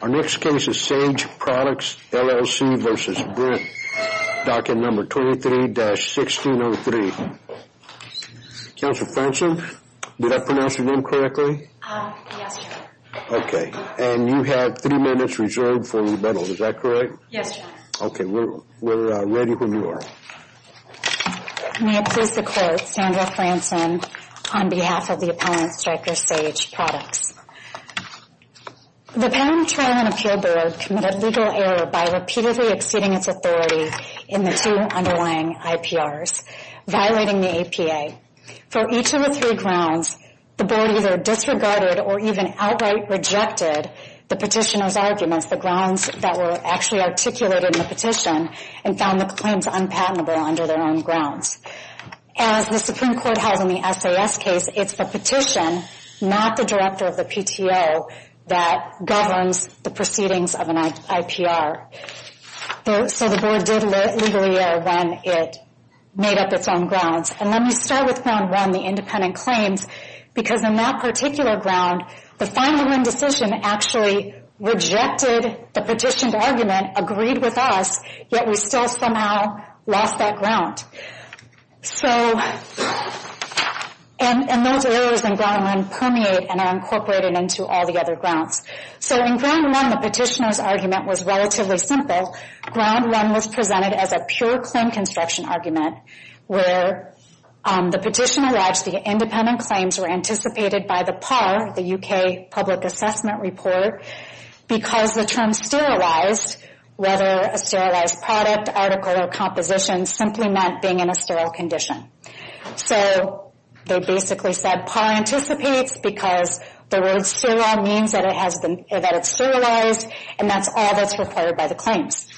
Docket 23-1603. Our next case is Sage Products, LLC v. Brent, Docket 23-1603. Counselor Franson, did I pronounce your name correctly? Yes, sir. Okay, and you have three minutes reserved for rebuttal, is that correct? Yes, sir. Okay, we're ready when you are. May it please the Court, Sandra Franson on behalf of the opponent, Stryker Sage Products. The Patent and Trial and Appeal Board committed legal error by repeatedly exceeding its authority in the two underlying IPRs, violating the APA. For each of the three grounds, the Board either disregarded or even outright rejected the petitioner's arguments, the grounds that were actually articulated in the petition, and found the claims unpatentable under their own grounds. As the Supreme Court has in the SAS case, it's the petition, not the director of the PTO, that governs the proceedings of an IPR. So the Board did legal error when it made up its own grounds. And let me start with ground one, the independent claims, because in that particular ground, the find-the-win decision actually rejected the petitioned argument, agreed with us, yet we still somehow lost that ground. So, and those errors in ground one permeate and are incorporated into all the other grounds. So in ground one, the petitioner's argument was relatively simple. Ground one was presented as a pure claim construction argument, where the petitioner lodged the independent claims were anticipated by the PAR, the UK Public Assessment Report, because the term sterilized, whether a sterilized product, article, or composition, simply meant being in a sterile condition. So they basically said PAR anticipates because the word sterile means that it's sterilized, and that's all that's required by the claims.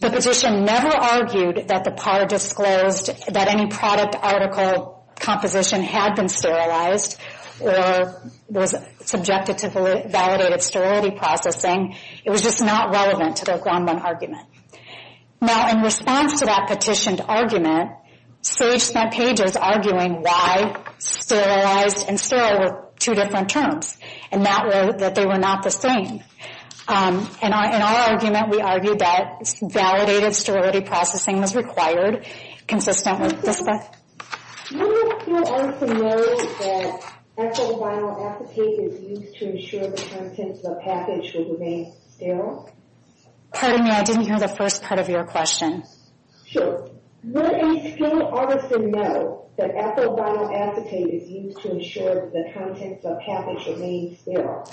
The petition never argued that the PAR disclosed that any product, article, composition had been sterilized or was subjected to validated sterility processing. It was just not relevant to their ground one argument. Now, in response to that petitioned argument, Sage-Smith Page is arguing why sterilized and sterile were two different terms, and that they were not the same. In our argument, we argued that validated sterility processing was required consistently. Would a skilled artisan know that ethyl vinyl acetate is used to ensure that the contents of a package will remain sterile? Pardon me, I didn't hear the first part of your question. Sure. Would a skilled artisan know that ethyl vinyl acetate is used to ensure that the contents of a package remain sterile?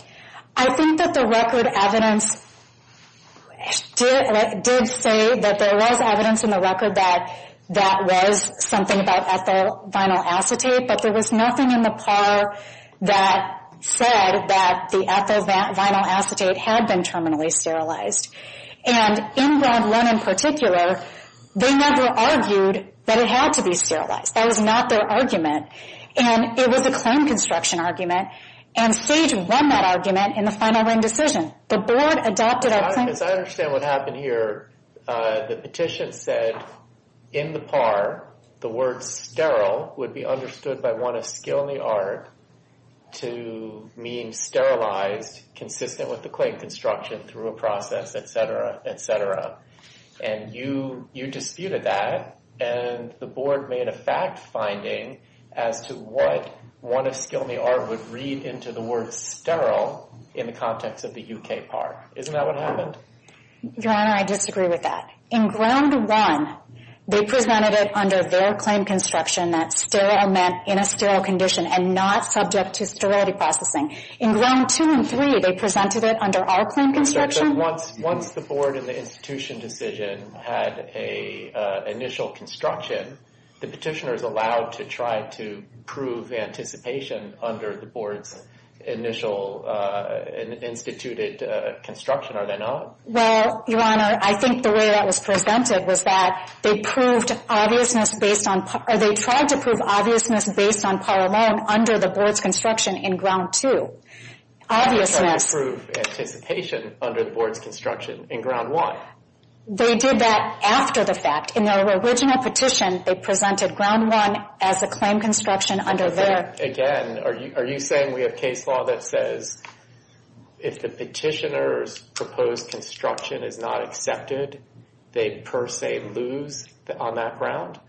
I think that the record evidence did say that there was evidence in the record that that was something about ethyl vinyl acetate, but there was nothing in the PAR that said that the ethyl vinyl acetate had been terminally sterilized. And in ground one in particular, they never argued that it had to be sterilized. That was not their argument. And it was a claim construction argument, and Sage won that argument in the final ring decision. The board adopted— Because I understand what happened here. The petition said in the PAR, the word sterile would be understood by one of skill in the art to mean sterilized, consistent with the claim construction through a process, et cetera, et cetera. And you disputed that, and the board made a fact finding as to what one of skill in the art would read into the word sterile in the context of the UK PAR. Isn't that what happened? Your Honor, I disagree with that. In ground one, they presented it under their claim construction that sterile meant in a sterile condition and not subject to sterility processing. In ground two and three, they presented it under our claim construction. Once the board in the institution decision had an initial construction, the petitioners allowed to try to prove anticipation under the board's initial instituted construction. Are they not? Well, Your Honor, I think the way that was presented was that they proved obviousness based on—or they tried to prove obviousness based on PAR alone under the board's construction in ground two. Obviousness. They tried to prove anticipation under the board's construction in ground one. They did that after the fact. In their original petition, they presented ground one as a claim construction under their— Again, are you saying we have case law that says if the petitioner's proposed construction is not accepted, they per se lose on that ground?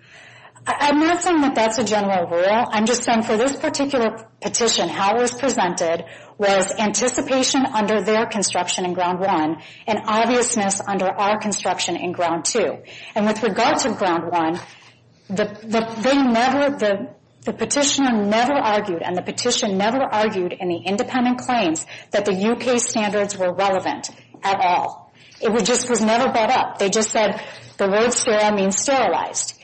I'm not saying that that's a general rule. I'm just saying for this particular petition, how it was presented was anticipation under their construction in ground one and obviousness under our construction in ground two. And with regard to ground one, they never—the petitioner never argued and the petitioner never argued in the independent claims that the U.K. standards were relevant at all. It just was never brought up. They just said the word sterile means sterilized.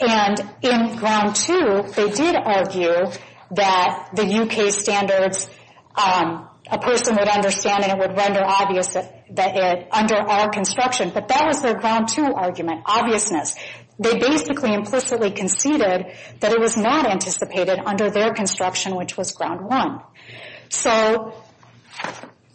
And in ground two, they did argue that the U.K. standards, a person would understand and it would render obvious that it—under our construction. But that was their ground two argument, obviousness. They basically implicitly conceded that it was not anticipated under their construction, which was ground one. So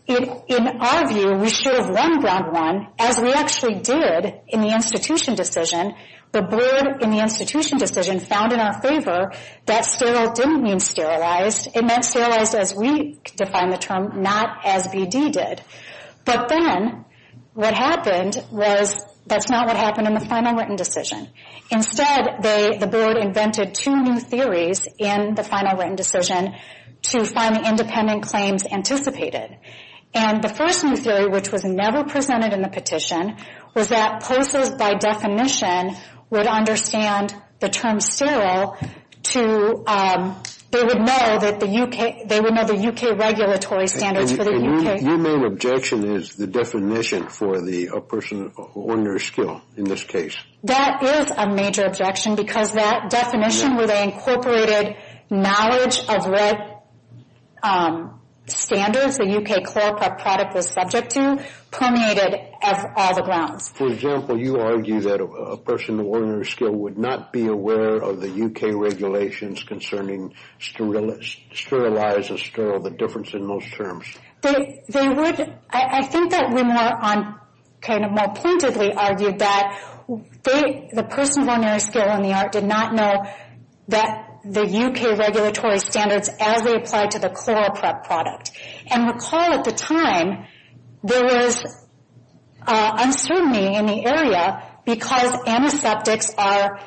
in our view, we should have won ground one as we actually did in the institution decision. The board in the institution decision found in our favor that sterile didn't mean sterilized. It meant sterilized as we defined the term, not as BD did. But then what happened was that's not what happened in the final written decision. Instead, they—the board invented two new theories in the final written decision to find the independent claims anticipated. And the first new theory, which was never presented in the petition, was that POCES, by definition, would understand the term sterile to—they would know that the U.K.— they would know the U.K. regulatory standards for the U.K. Your main objection is the definition for the person on your skill in this case. That is a major objection because that definition, where they incorporated knowledge of red standards, the U.K. chloroprep product was subject to, permeated all the grounds. For example, you argue that a person of ordinary skill would not be aware of the U.K. regulations concerning sterilize and sterile, the difference in those terms. They would—I think that we more on—kind of more pointedly argued that they— the person of ordinary skill in the art did not know that the U.K. regulatory standards as they applied to the chloroprep product. And recall at the time, there was uncertainty in the area because antiseptics are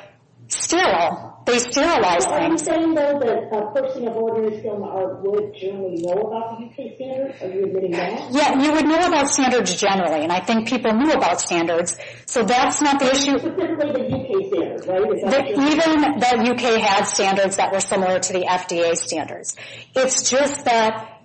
sterile. They sterilize things. So you're saying, though, that a person of ordinary skill in the art would generally know about the U.K. standards? Are you admitting that? Yeah, you would know about standards generally, and I think people knew about standards, so that's not the issue. So typically the U.K. standards, right? Even the U.K. had standards that were similar to the FDA standards. It's just that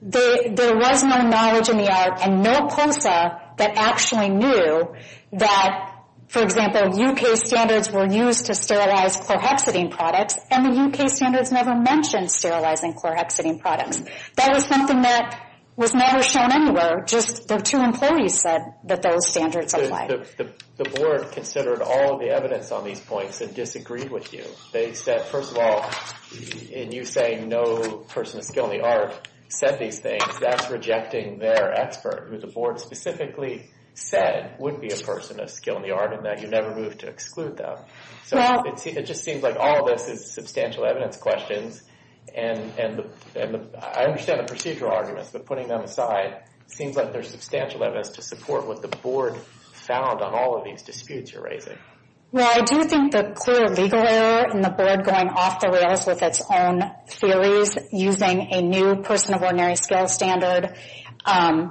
there was no knowledge in the art and no POSA that actually knew that, for example, U.K. standards were used to sterilize chlorhexidine products, and the U.K. standards never mentioned sterilizing chlorhexidine products. That was something that was never shown anywhere. Just the two employees said that those standards apply. The board considered all of the evidence on these points and disagreed with you. They said, first of all, in you saying no person of skill in the art said these things, that's rejecting their expert, who the board specifically said would be a person of skill in the art and that you never moved to exclude them. So it just seems like all of this is substantial evidence questions, and I understand the procedural arguments, but putting them aside, seems like they're substantial evidence to support what the board found on all of these disputes you're raising. Well, I do think the clear legal error in the board going off the rails with its own theories, using a new person of ordinary skill standard, and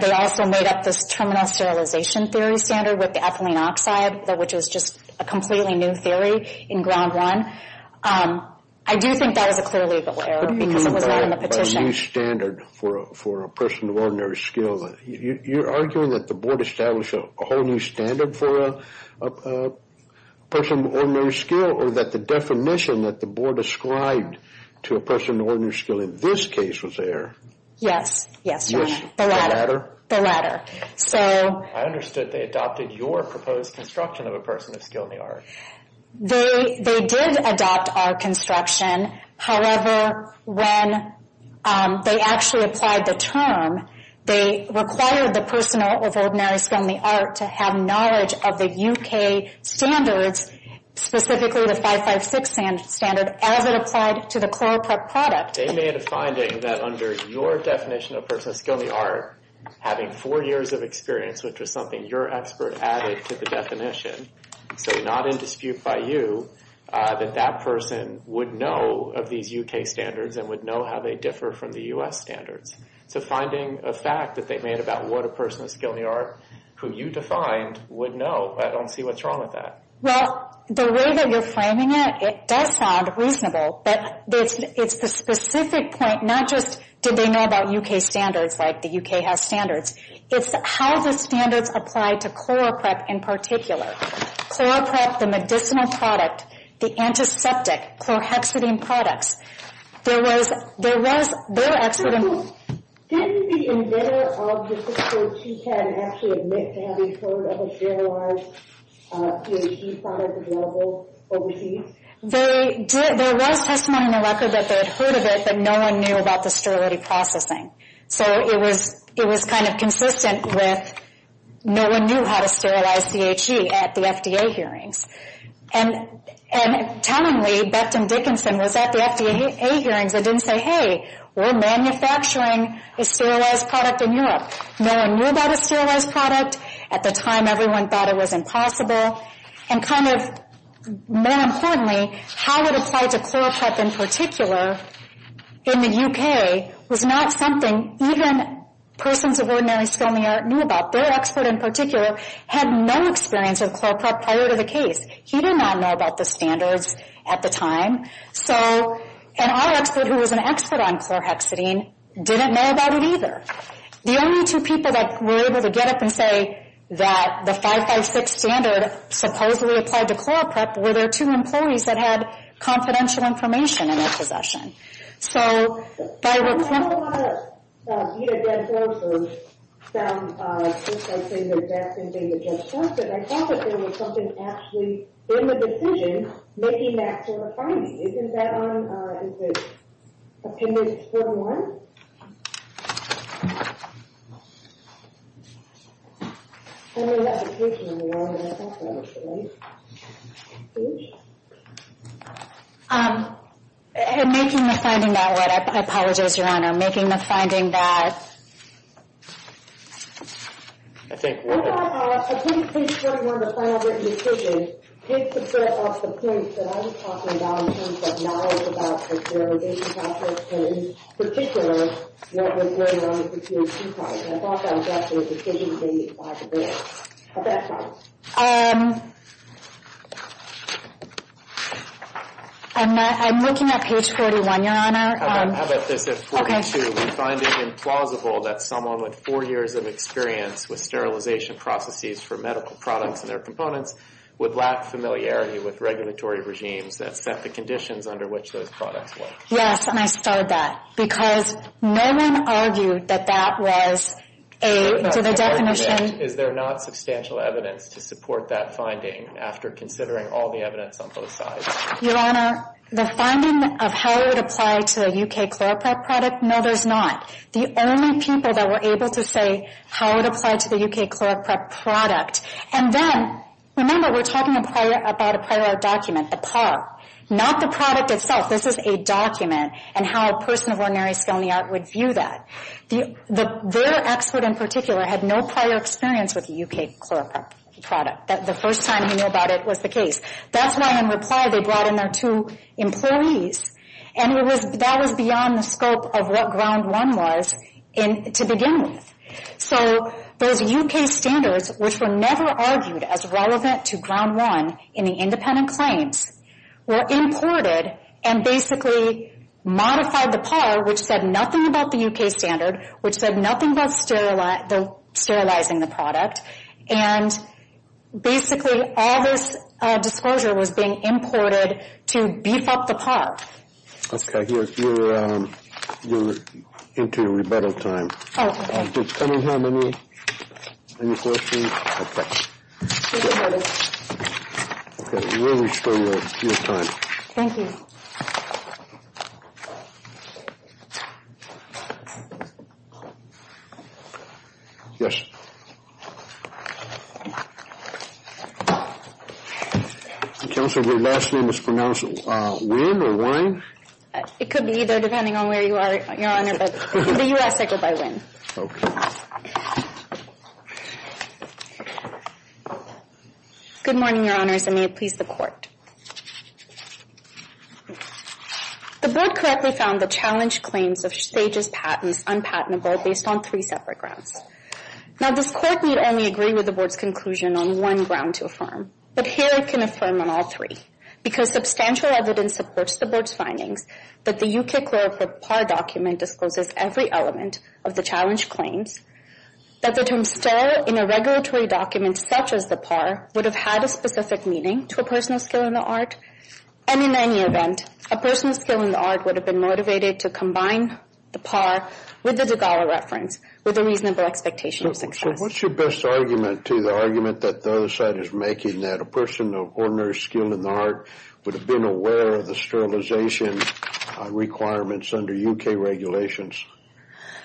they also made up this terminal sterilization theory standard with the ethylene oxide, which was just a completely new theory in ground one. I do think that was a clear legal error because it was not in the petition. A new standard for a person of ordinary skill. You're arguing that the board established a whole new standard for a person of ordinary skill or that the definition that the board ascribed to a person of ordinary skill in this case was there. Yes. Yes, your honor. The latter. The latter. So... I understood they adopted your proposed construction of a person of skill in the art. They did adopt our construction. However, when they actually applied the term, they required the person of ordinary skill in the art to have knowledge of the U.K. standards, specifically the 556 standard, as it applied to the chloroprep product. They made a finding that under your definition of person of skill in the art, having four years of experience, which was something your expert added to the definition, so not in dispute by you, that that person would know of these U.K. standards and would know how they differ from the U.S. standards. So finding a fact that they made about what a person of skill in the art, who you defined, would know. I don't see what's wrong with that. Well, the way that you're framing it, it does sound reasonable. But it's the specific point, not just did they know about U.K. standards like the U.K. has standards. It's how the standards apply to chloroprep in particular. Chloroprep, the medicinal product, the antiseptic, chlorhexidine products. There was their expert in- Didn't the inventor of the 6-3-2-10 actually admit to having heard of a sterilized CHE product available overseas? They did. There was testimony in the record that they had heard of it, but no one knew about the sterility processing. So it was kind of consistent with no one knew how to sterilize CHE. at the FDA hearings. And tellingly, Becton Dickinson was at the FDA hearings and didn't say, hey, we're manufacturing a sterilized product in Europe. No one knew about a sterilized product. At the time, everyone thought it was impossible. And kind of more importantly, how it applied to chloroprep in particular in the U.K. was not something even persons of ordinary skill in the art knew about. Their expert in particular had no experience of chloroprep prior to the case. He did not know about the standards at the time. And our expert, who was an expert on chlorhexidine, didn't know about it either. The only two people that were able to get up and say that the 5-5-6 standard supposedly applied to chloroprep were their two employees that had confidential information in their possession. So that was helpful. There was a lot of dead horses. Some people say that that's something that just happened. I thought that there was something actually in the decision making that sort of finding. Isn't that on, is it, appendix 41? I'm making the finding that way. I apologize, Your Honor. I'm making the finding that— I think we're— Appendix 41, the final written decision, takes the threat off the case that I was talking about in terms of knowledge about the sterilization of chloroprep in particular. I'm looking at page 41, Your Honor. How about this? At 42, we find it implausible that someone with four years of experience with sterilization processes for medical products and their components would lack familiarity with regulatory regimes that set the conditions under which those products work. Yes, and I starred that. Because, you know, I'm not an expert. And no one argued that that was a, to the definition— Is there not substantial evidence to support that finding after considering all the evidence on both sides? Your Honor, the finding of how it would apply to a U.K. chloroprep product, no, there's not. The only people that were able to say how it applied to the U.K. chloroprep product, and then, remember, we're talking about a prior art document, a PAR, not the product itself. This is a document, and how a person of ordinary skill in the art would view that. Their expert in particular had no prior experience with the U.K. chloroprep product. The first time he knew about it was the case. That's why, in reply, they brought in their two employees, and that was beyond the scope of what Ground One was to begin with. So those U.K. standards, which were never argued as relevant to Ground One in the independent claims, were imported and basically modified the PAR, which said nothing about the U.K. standard, which said nothing about sterilizing the product, and basically all this disclosure was being imported to beef up the PAR. Okay. You're into rebuttal time. Oh, okay. Does Cunningham have any questions? Okay. Okay, we'll restore your time. Thank you. Yes? Counsel, your last name is pronounced Wynne or Wynne? It could be either, depending on where you are, Your Honor, but in the U.S., I go by Wynne. Okay. Good morning, Your Honors, and may it please the Court. The Board correctly found the challenged claims of Stages Patents unpatentable based on three separate grounds. Now, this Court need only agree with the Board's conclusion on one ground to affirm, but here it can affirm on all three because substantial evidence supports the Board's findings that the U.K. Clerical PAR document discloses every element of the challenged claims, that the term sterile in a regulatory document such as the PAR would have had a specific meaning to a personal skill in the art, and in any event, a personal skill in the art would have been motivated to combine the PAR with the Degawa reference with a reasonable expectation of success. So what's your best argument to the argument that the other side is making, that a person of ordinary skill in the art would have been aware of the sterilization requirements under U.K. regulations?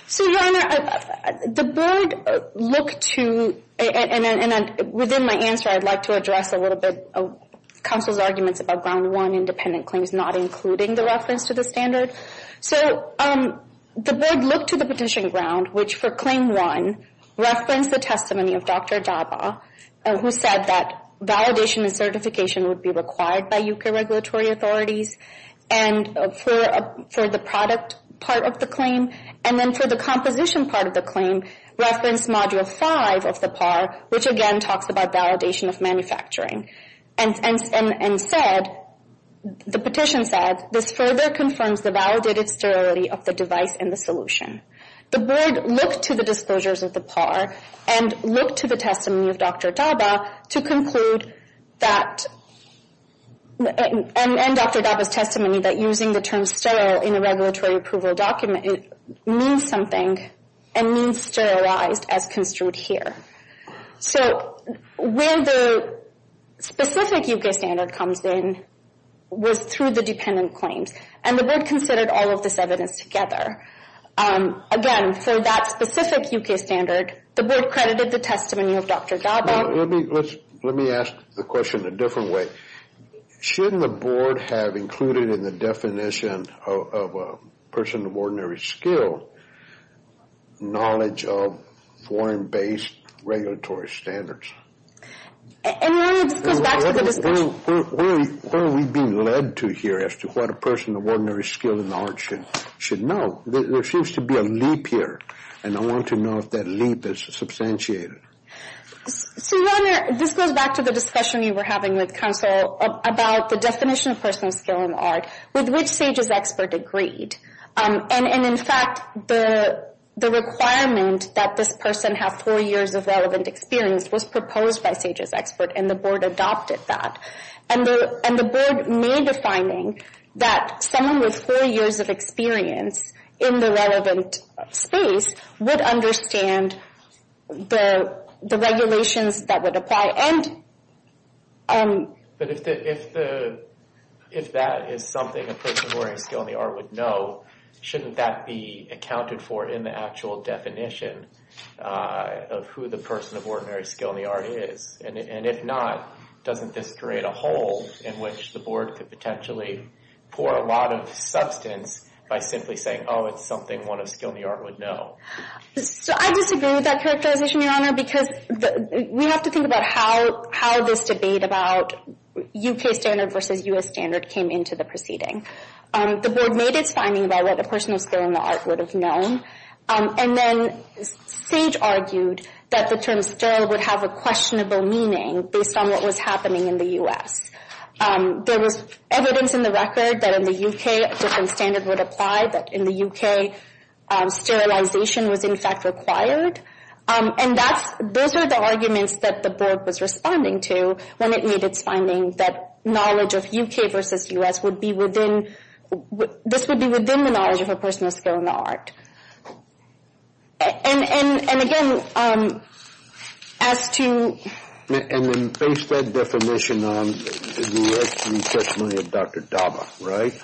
So, Your Honor, the Board looked to, and within my answer, I'd like to address a little bit of counsel's arguments about ground one, independent claims not including the reference to the standard. So the Board looked to the petition ground, which for claim one, referenced the testimony of Dr. Daba, who said that validation and certification would be required by U.K. regulatory authorities and for the product part of the claim, and then for the composition part of the claim referenced Module 5 of the PAR, which again talks about validation of manufacturing, and said, the petition said, this further confirms the validated sterility of the device and the solution. The Board looked to the disclosures of the PAR and looked to the testimony of Dr. Daba to conclude that, and Dr. Daba's testimony that using the term sterile in a regulatory approval document means something and means sterilized as construed here. So where the specific U.K. standard comes in was through the dependent claims, and the Board considered all of this evidence together. Again, for that specific U.K. standard, the Board credited the testimony of Dr. Daba. Let me ask the question a different way. Shouldn't the Board have included in the definition of a person of ordinary skill knowledge of foreign-based regulatory standards? And let me just go back to the discussion. Where are we being led to here as to what a person of ordinary skill and knowledge should know? There seems to be a leap here, and I want to know if that leap is substantiated. This goes back to the discussion you were having with counsel about the definition of personal skill in art, with which Sage's expert agreed. And in fact, the requirement that this person have four years of relevant experience was proposed by Sage's expert, and the Board adopted that. And the Board made the finding that someone with four years of experience in the relevant space would understand the regulations that would apply. But if that is something a person of ordinary skill in the art would know, shouldn't that be accounted for in the actual definition of who the person of ordinary skill in the art is? And if not, doesn't this create a hole in which the Board could potentially pour a lot of substance by simply saying, oh, it's something one of skill in the art would know? So I disagree with that characterization, Your Honor, because we have to think about how this debate about U.K. standard versus U.S. standard came into the proceeding. The Board made its finding about what a person of skill in the art would have known, and then Sage argued that the term sterile would have a questionable meaning based on what was happening in the U.S. There was evidence in the record that in the U.K. a different standard would apply, that in the U.K. sterilization was in fact required. And those are the arguments that the Board was responding to when it made its finding that knowledge of U.K. versus U.S. would be within – this would be within the knowledge of a person of skill in the art. And again, as to – And then based that definition on the U.S. research money of Dr. Daba, right?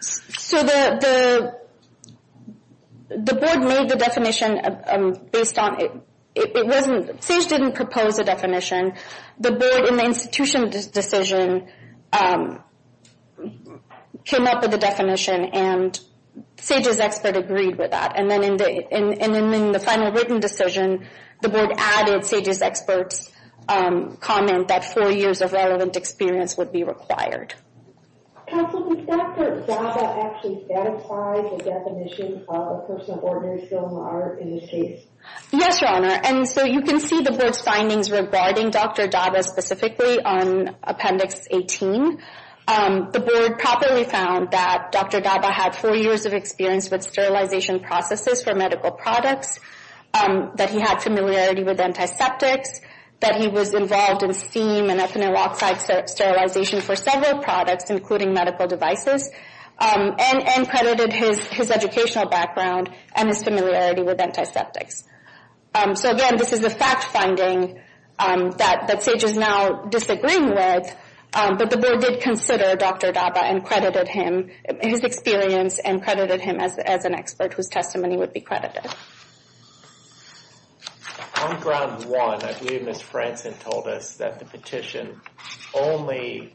So the Board made the definition based on – it wasn't – Sage didn't propose a definition. The Board, in the institution decision, came up with a definition, and Sage's expert agreed with that. And then in the final written decision, the Board added Sage's expert's comment that four years of relevant experience would be required. Counsel, did Dr. Daba actually satisfy the definition of a person of ordinary skill in the art in this case? Yes, Your Honor. And so you can see the Board's findings regarding Dr. Daba specifically on Appendix 18. The Board properly found that Dr. Daba had four years of experience with sterilization processes for medical products, that he had familiarity with antiseptics, that he was involved in steam and ethanol oxide sterilization for several products, including medical devices, and credited his educational background and his familiarity with antiseptics. So again, this is the fact-finding that Sage is now disagreeing with, but the Board did consider Dr. Daba and credited him, his experience, and credited him as an expert whose testimony would be credited. On ground one, I believe Ms. Franson told us that the petition only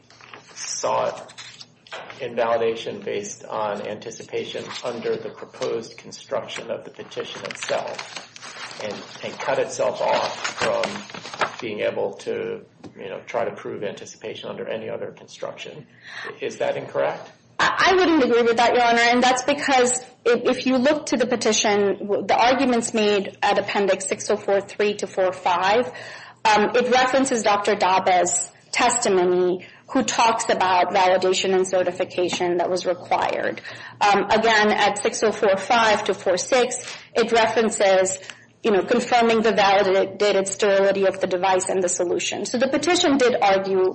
sought invalidation based on anticipation under the proposed construction of the petition itself, and cut itself off from being able to, you know, try to prove anticipation under any other construction. Is that incorrect? I wouldn't agree with that, Your Honor, and that's because if you look to the petition, the arguments made at Appendix 6043 to 405, it references Dr. Daba's testimony who talks about validation and certification that was required. Again, at 6045 to 406, it references, you know, confirming the validated sterility of the device and the solution. So the petition did argue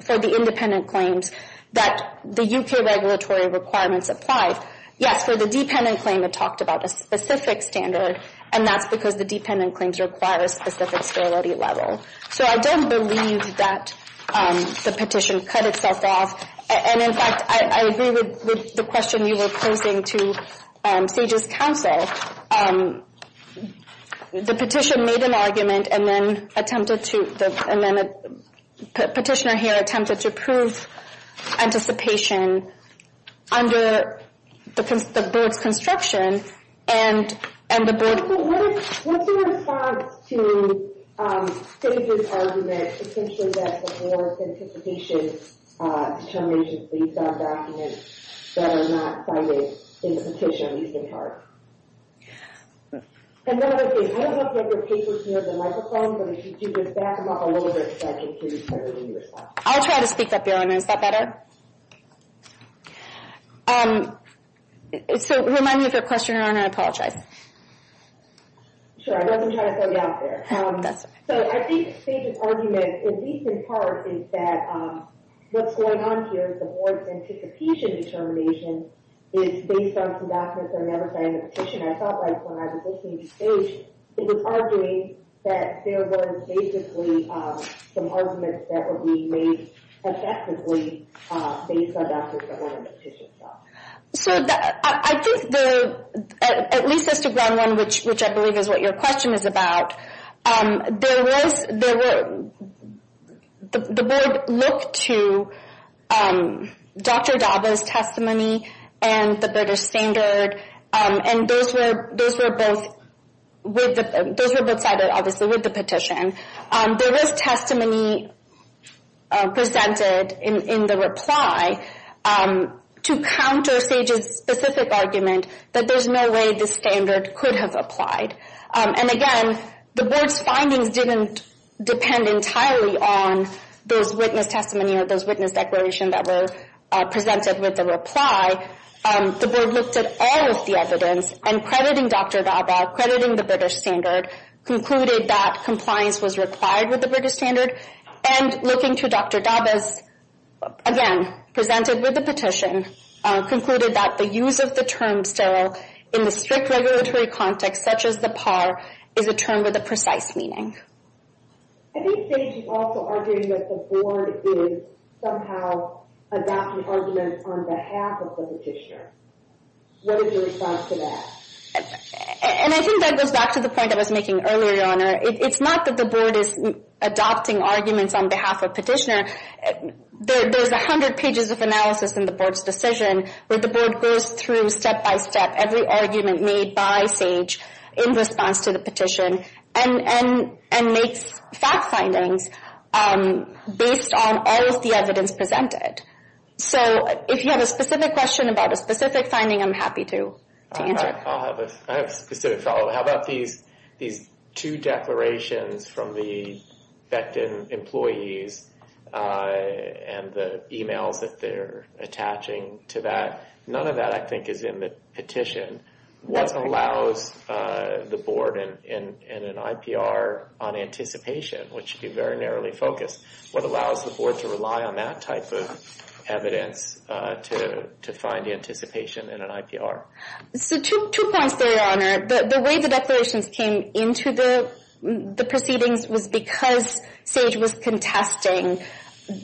for the independent claims that the U.K. regulatory requirements applied. Yes, for the dependent claim, it talked about a specific standard, and that's because the dependent claims require a specific sterility level. So I don't believe that the petition cut itself off. And in fact, I agree with the question you were posing to Sage's counsel. The petition made an argument and then attempted to— and then a petitioner here attempted to prove anticipation under the board's construction, and the board— So what's your response to Sage's argument, potentially that the board's anticipation determination is based on documents that are not cited in the petition, at least in part? And one other thing, I don't know if you have your papers near the microphone, but if you could just back them up a little bit so I can hear you better when you respond. I'll try to speak up, Your Honor. Is that better? So remind me if there's a question, Your Honor, and I apologize. Sure, I wasn't trying to slow you down there. That's okay. So I think Sage's argument, at least in part, is that what's going on here is the board's anticipation determination is based on some documents that are never cited in the petition. I felt like when I was listening to Sage, it was arguing that there were basically some arguments that were being made effectively based on documents that weren't in the petition. So I think there—at least as to ground one, which I believe is what your question is about, there was—the board looked to Dr. Daba's testimony and the British Standard, and those were both—those were both cited, obviously, with the petition. There was testimony presented in the reply to counter Sage's specific argument that there's no way this standard could have applied. And again, the board's findings didn't depend entirely on those witness testimonies or those witness declarations that were presented with the reply. The board looked at all of the evidence, and crediting Dr. Daba, crediting the British Standard, concluded that compliance was required with the British Standard. And looking to Dr. Daba's, again, presented with the petition, concluded that the use of the term sterile in the strict regulatory context, such as the PAR, is a term with a precise meaning. I think Sage is also arguing that the board is somehow adopting arguments on behalf of the petitioner. What is your response to that? And I think that goes back to the point I was making earlier, Your Honor. It's not that the board is adopting arguments on behalf of the petitioner. There's 100 pages of analysis in the board's decision where the board goes through step-by-step every argument made by Sage in response to the petition and makes fact findings based on all of the evidence presented. So if you have a specific question about a specific finding, I'm happy to answer. I have a specific follow-up. How about these two declarations from the Becton employees and the emails that they're attaching to that? None of that, I think, is in the petition. What allows the board in an IPR on anticipation, which should be very narrowly focused, what allows the board to rely on that type of evidence to find anticipation in an IPR? So two points there, Your Honor. The way the declarations came into the proceedings was because Sage was contesting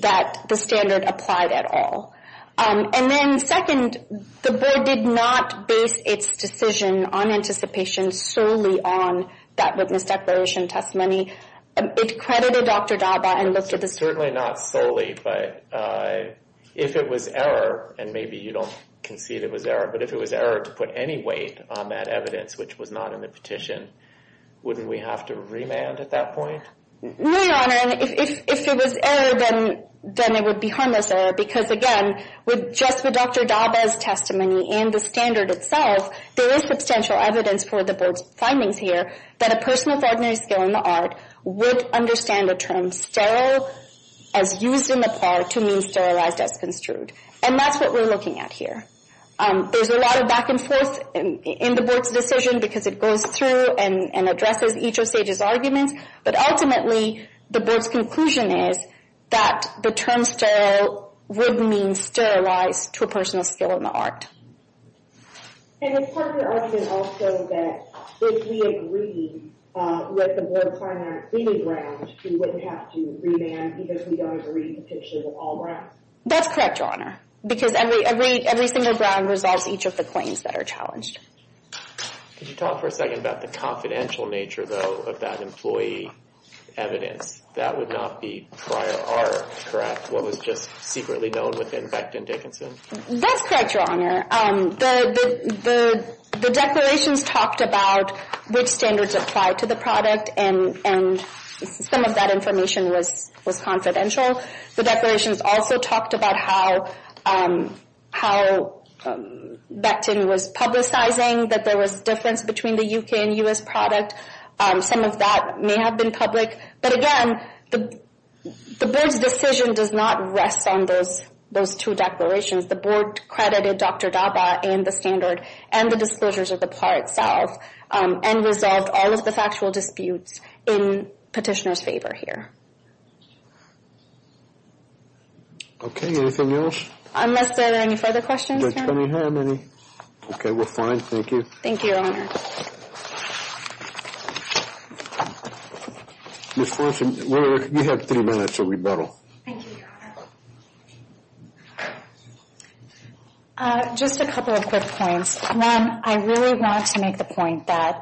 that the standard applied at all. And then second, the board did not base its decision on anticipation solely on that witness declaration testimony. It credited Dr. Daba and looked at the— Certainly not solely, but if it was error, and maybe you don't concede it was error, but if it was error to put any weight on that evidence which was not in the petition, wouldn't we have to remand at that point? No, Your Honor. If it was error, then it would be harmless error because, again, with just the Dr. Daba's testimony and the standard itself, there is substantial evidence for the board's findings here that a person with ordinary skill in the art would understand a term sterile as used in the par to mean sterilized as construed. And that's what we're looking at here. There's a lot of back and forth in the board's decision because it goes through and addresses each of Sage's arguments. But ultimately, the board's conclusion is that the term sterile would mean sterilized to a personal skill in the art. And it's part of the argument also that if we agree with the board's primary cleaning grounds, we wouldn't have to remand because we don't agree with the pictures of all grounds. That's correct, Your Honor. Because every single ground resolves each of the claims that are challenged. Could you talk for a second about the confidential nature, though, of that employee evidence? That would not be prior art, correct? What was just secretly known within Beckton Dickinson? That's correct, Your Honor. The declarations talked about which standards apply to the product, and some of that information was confidential. The declarations also talked about how Beckton was publicizing that there was difference between the UK and US product. Some of that may have been public. But again, the board's decision does not rest on those two declarations. The board credited Dr. Daba and the standard and the disclosures of the part itself and resolved all of the factual disputes in petitioner's favor here. Okay, anything else? Unless there are any further questions, Your Honor. Okay, we're fine. Thank you. Thank you, Your Honor. Ms. Forsen, you have three minutes of rebuttal. Thank you, Your Honor. Just a couple of quick points. One, I really want to make the point that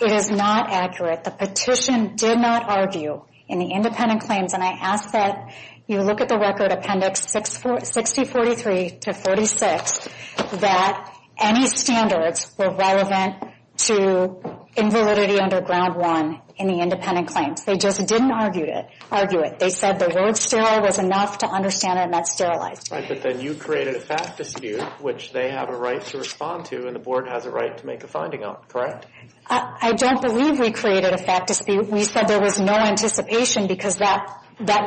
it is not accurate. The petition did not argue in the independent claims, and I ask that you look at the Record Appendix 6043-46 that any standards were relevant to invalidity under Ground 1 in the independent claims. They just didn't argue it. They said the word sterile was enough to understand it, and that's sterilized. Right, but then you created a fact dispute, which they have a right to respond to, and the board has a right to make a finding out, correct? I don't believe we created a fact dispute. We said there was no anticipation because that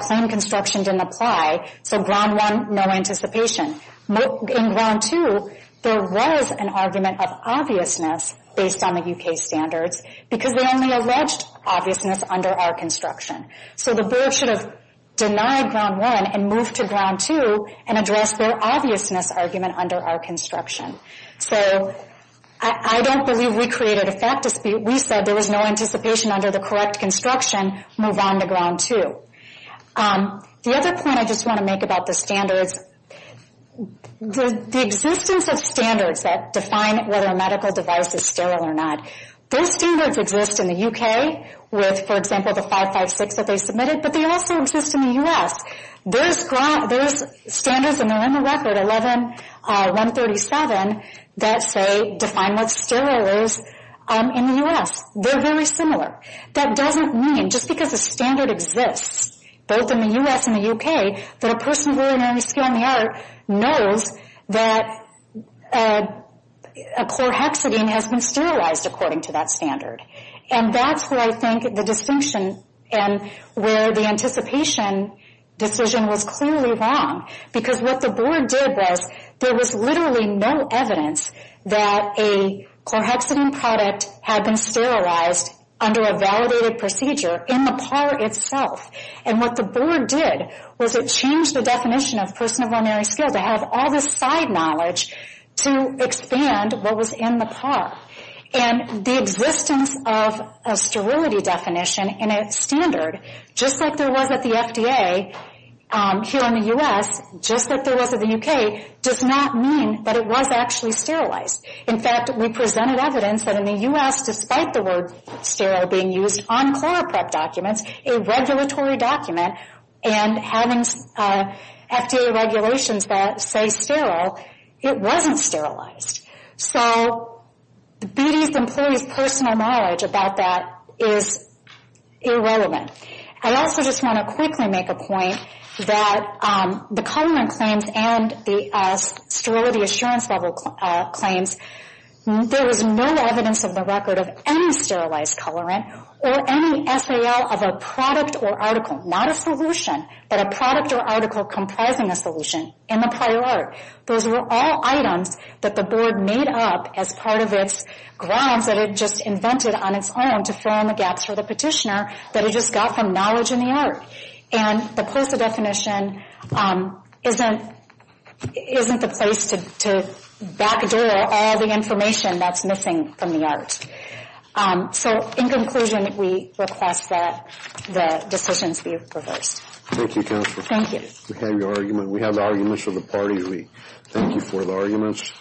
claim construction didn't apply, so Ground 1, no anticipation. In Ground 2, there was an argument of obviousness based on the U.K. standards because they only alleged obviousness under our construction. So the board should have denied Ground 1 and moved to Ground 2 and addressed their obviousness argument under our construction. So I don't believe we created a fact dispute. We said there was no anticipation under the correct construction, move on to Ground 2. The other point I just want to make about the standards, the existence of standards that define whether a medical device is sterile or not, those standards exist in the U.K. with, for example, the 556 that they submitted, but they also exist in the U.S. There's standards, and they're in the record, 11-137, that say define what sterile is in the U.S. They're very similar. That doesn't mean, just because a standard exists, both in the U.S. and the U.K., that a person of ordinary skill and the art knows that a chlorhexidine has been sterilized according to that standard. And that's where I think the distinction and where the anticipation decision was clearly wrong, because what the board did was there was literally no evidence that a chlorhexidine product had been sterilized under a validated procedure in the PAR itself. And what the board did was it changed the definition of person of ordinary skill to have all this side knowledge to expand what was in the PAR. And the existence of a sterility definition in a standard, just like there was at the FDA here in the U.S., just like there was in the U.K., does not mean that it was actually sterilized. In fact, we presented evidence that in the U.S., despite the word sterile being used on chloroprep documents, a regulatory document, and having FDA regulations that say sterile, it wasn't sterilized. So BD's employees' personal knowledge about that is irrelevant. I also just want to quickly make a point that the colorant claims and the sterility assurance level claims, there was no evidence of the record of any sterilized colorant or any SAL of a product or article, not a solution, but a product or article comprising a solution in the PAR. Those were all items that the board made up as part of its grounds that it just invented on its own to fill in the gaps for the petitioner that it just got from knowledge in the ART. And the POSA definition isn't the place to backdoor all the information that's missing from the ART. So in conclusion, we request that the decisions be reversed. Thank you, Counselor. Thank you. We have your argument. We have the arguments of the party. We thank you for the arguments.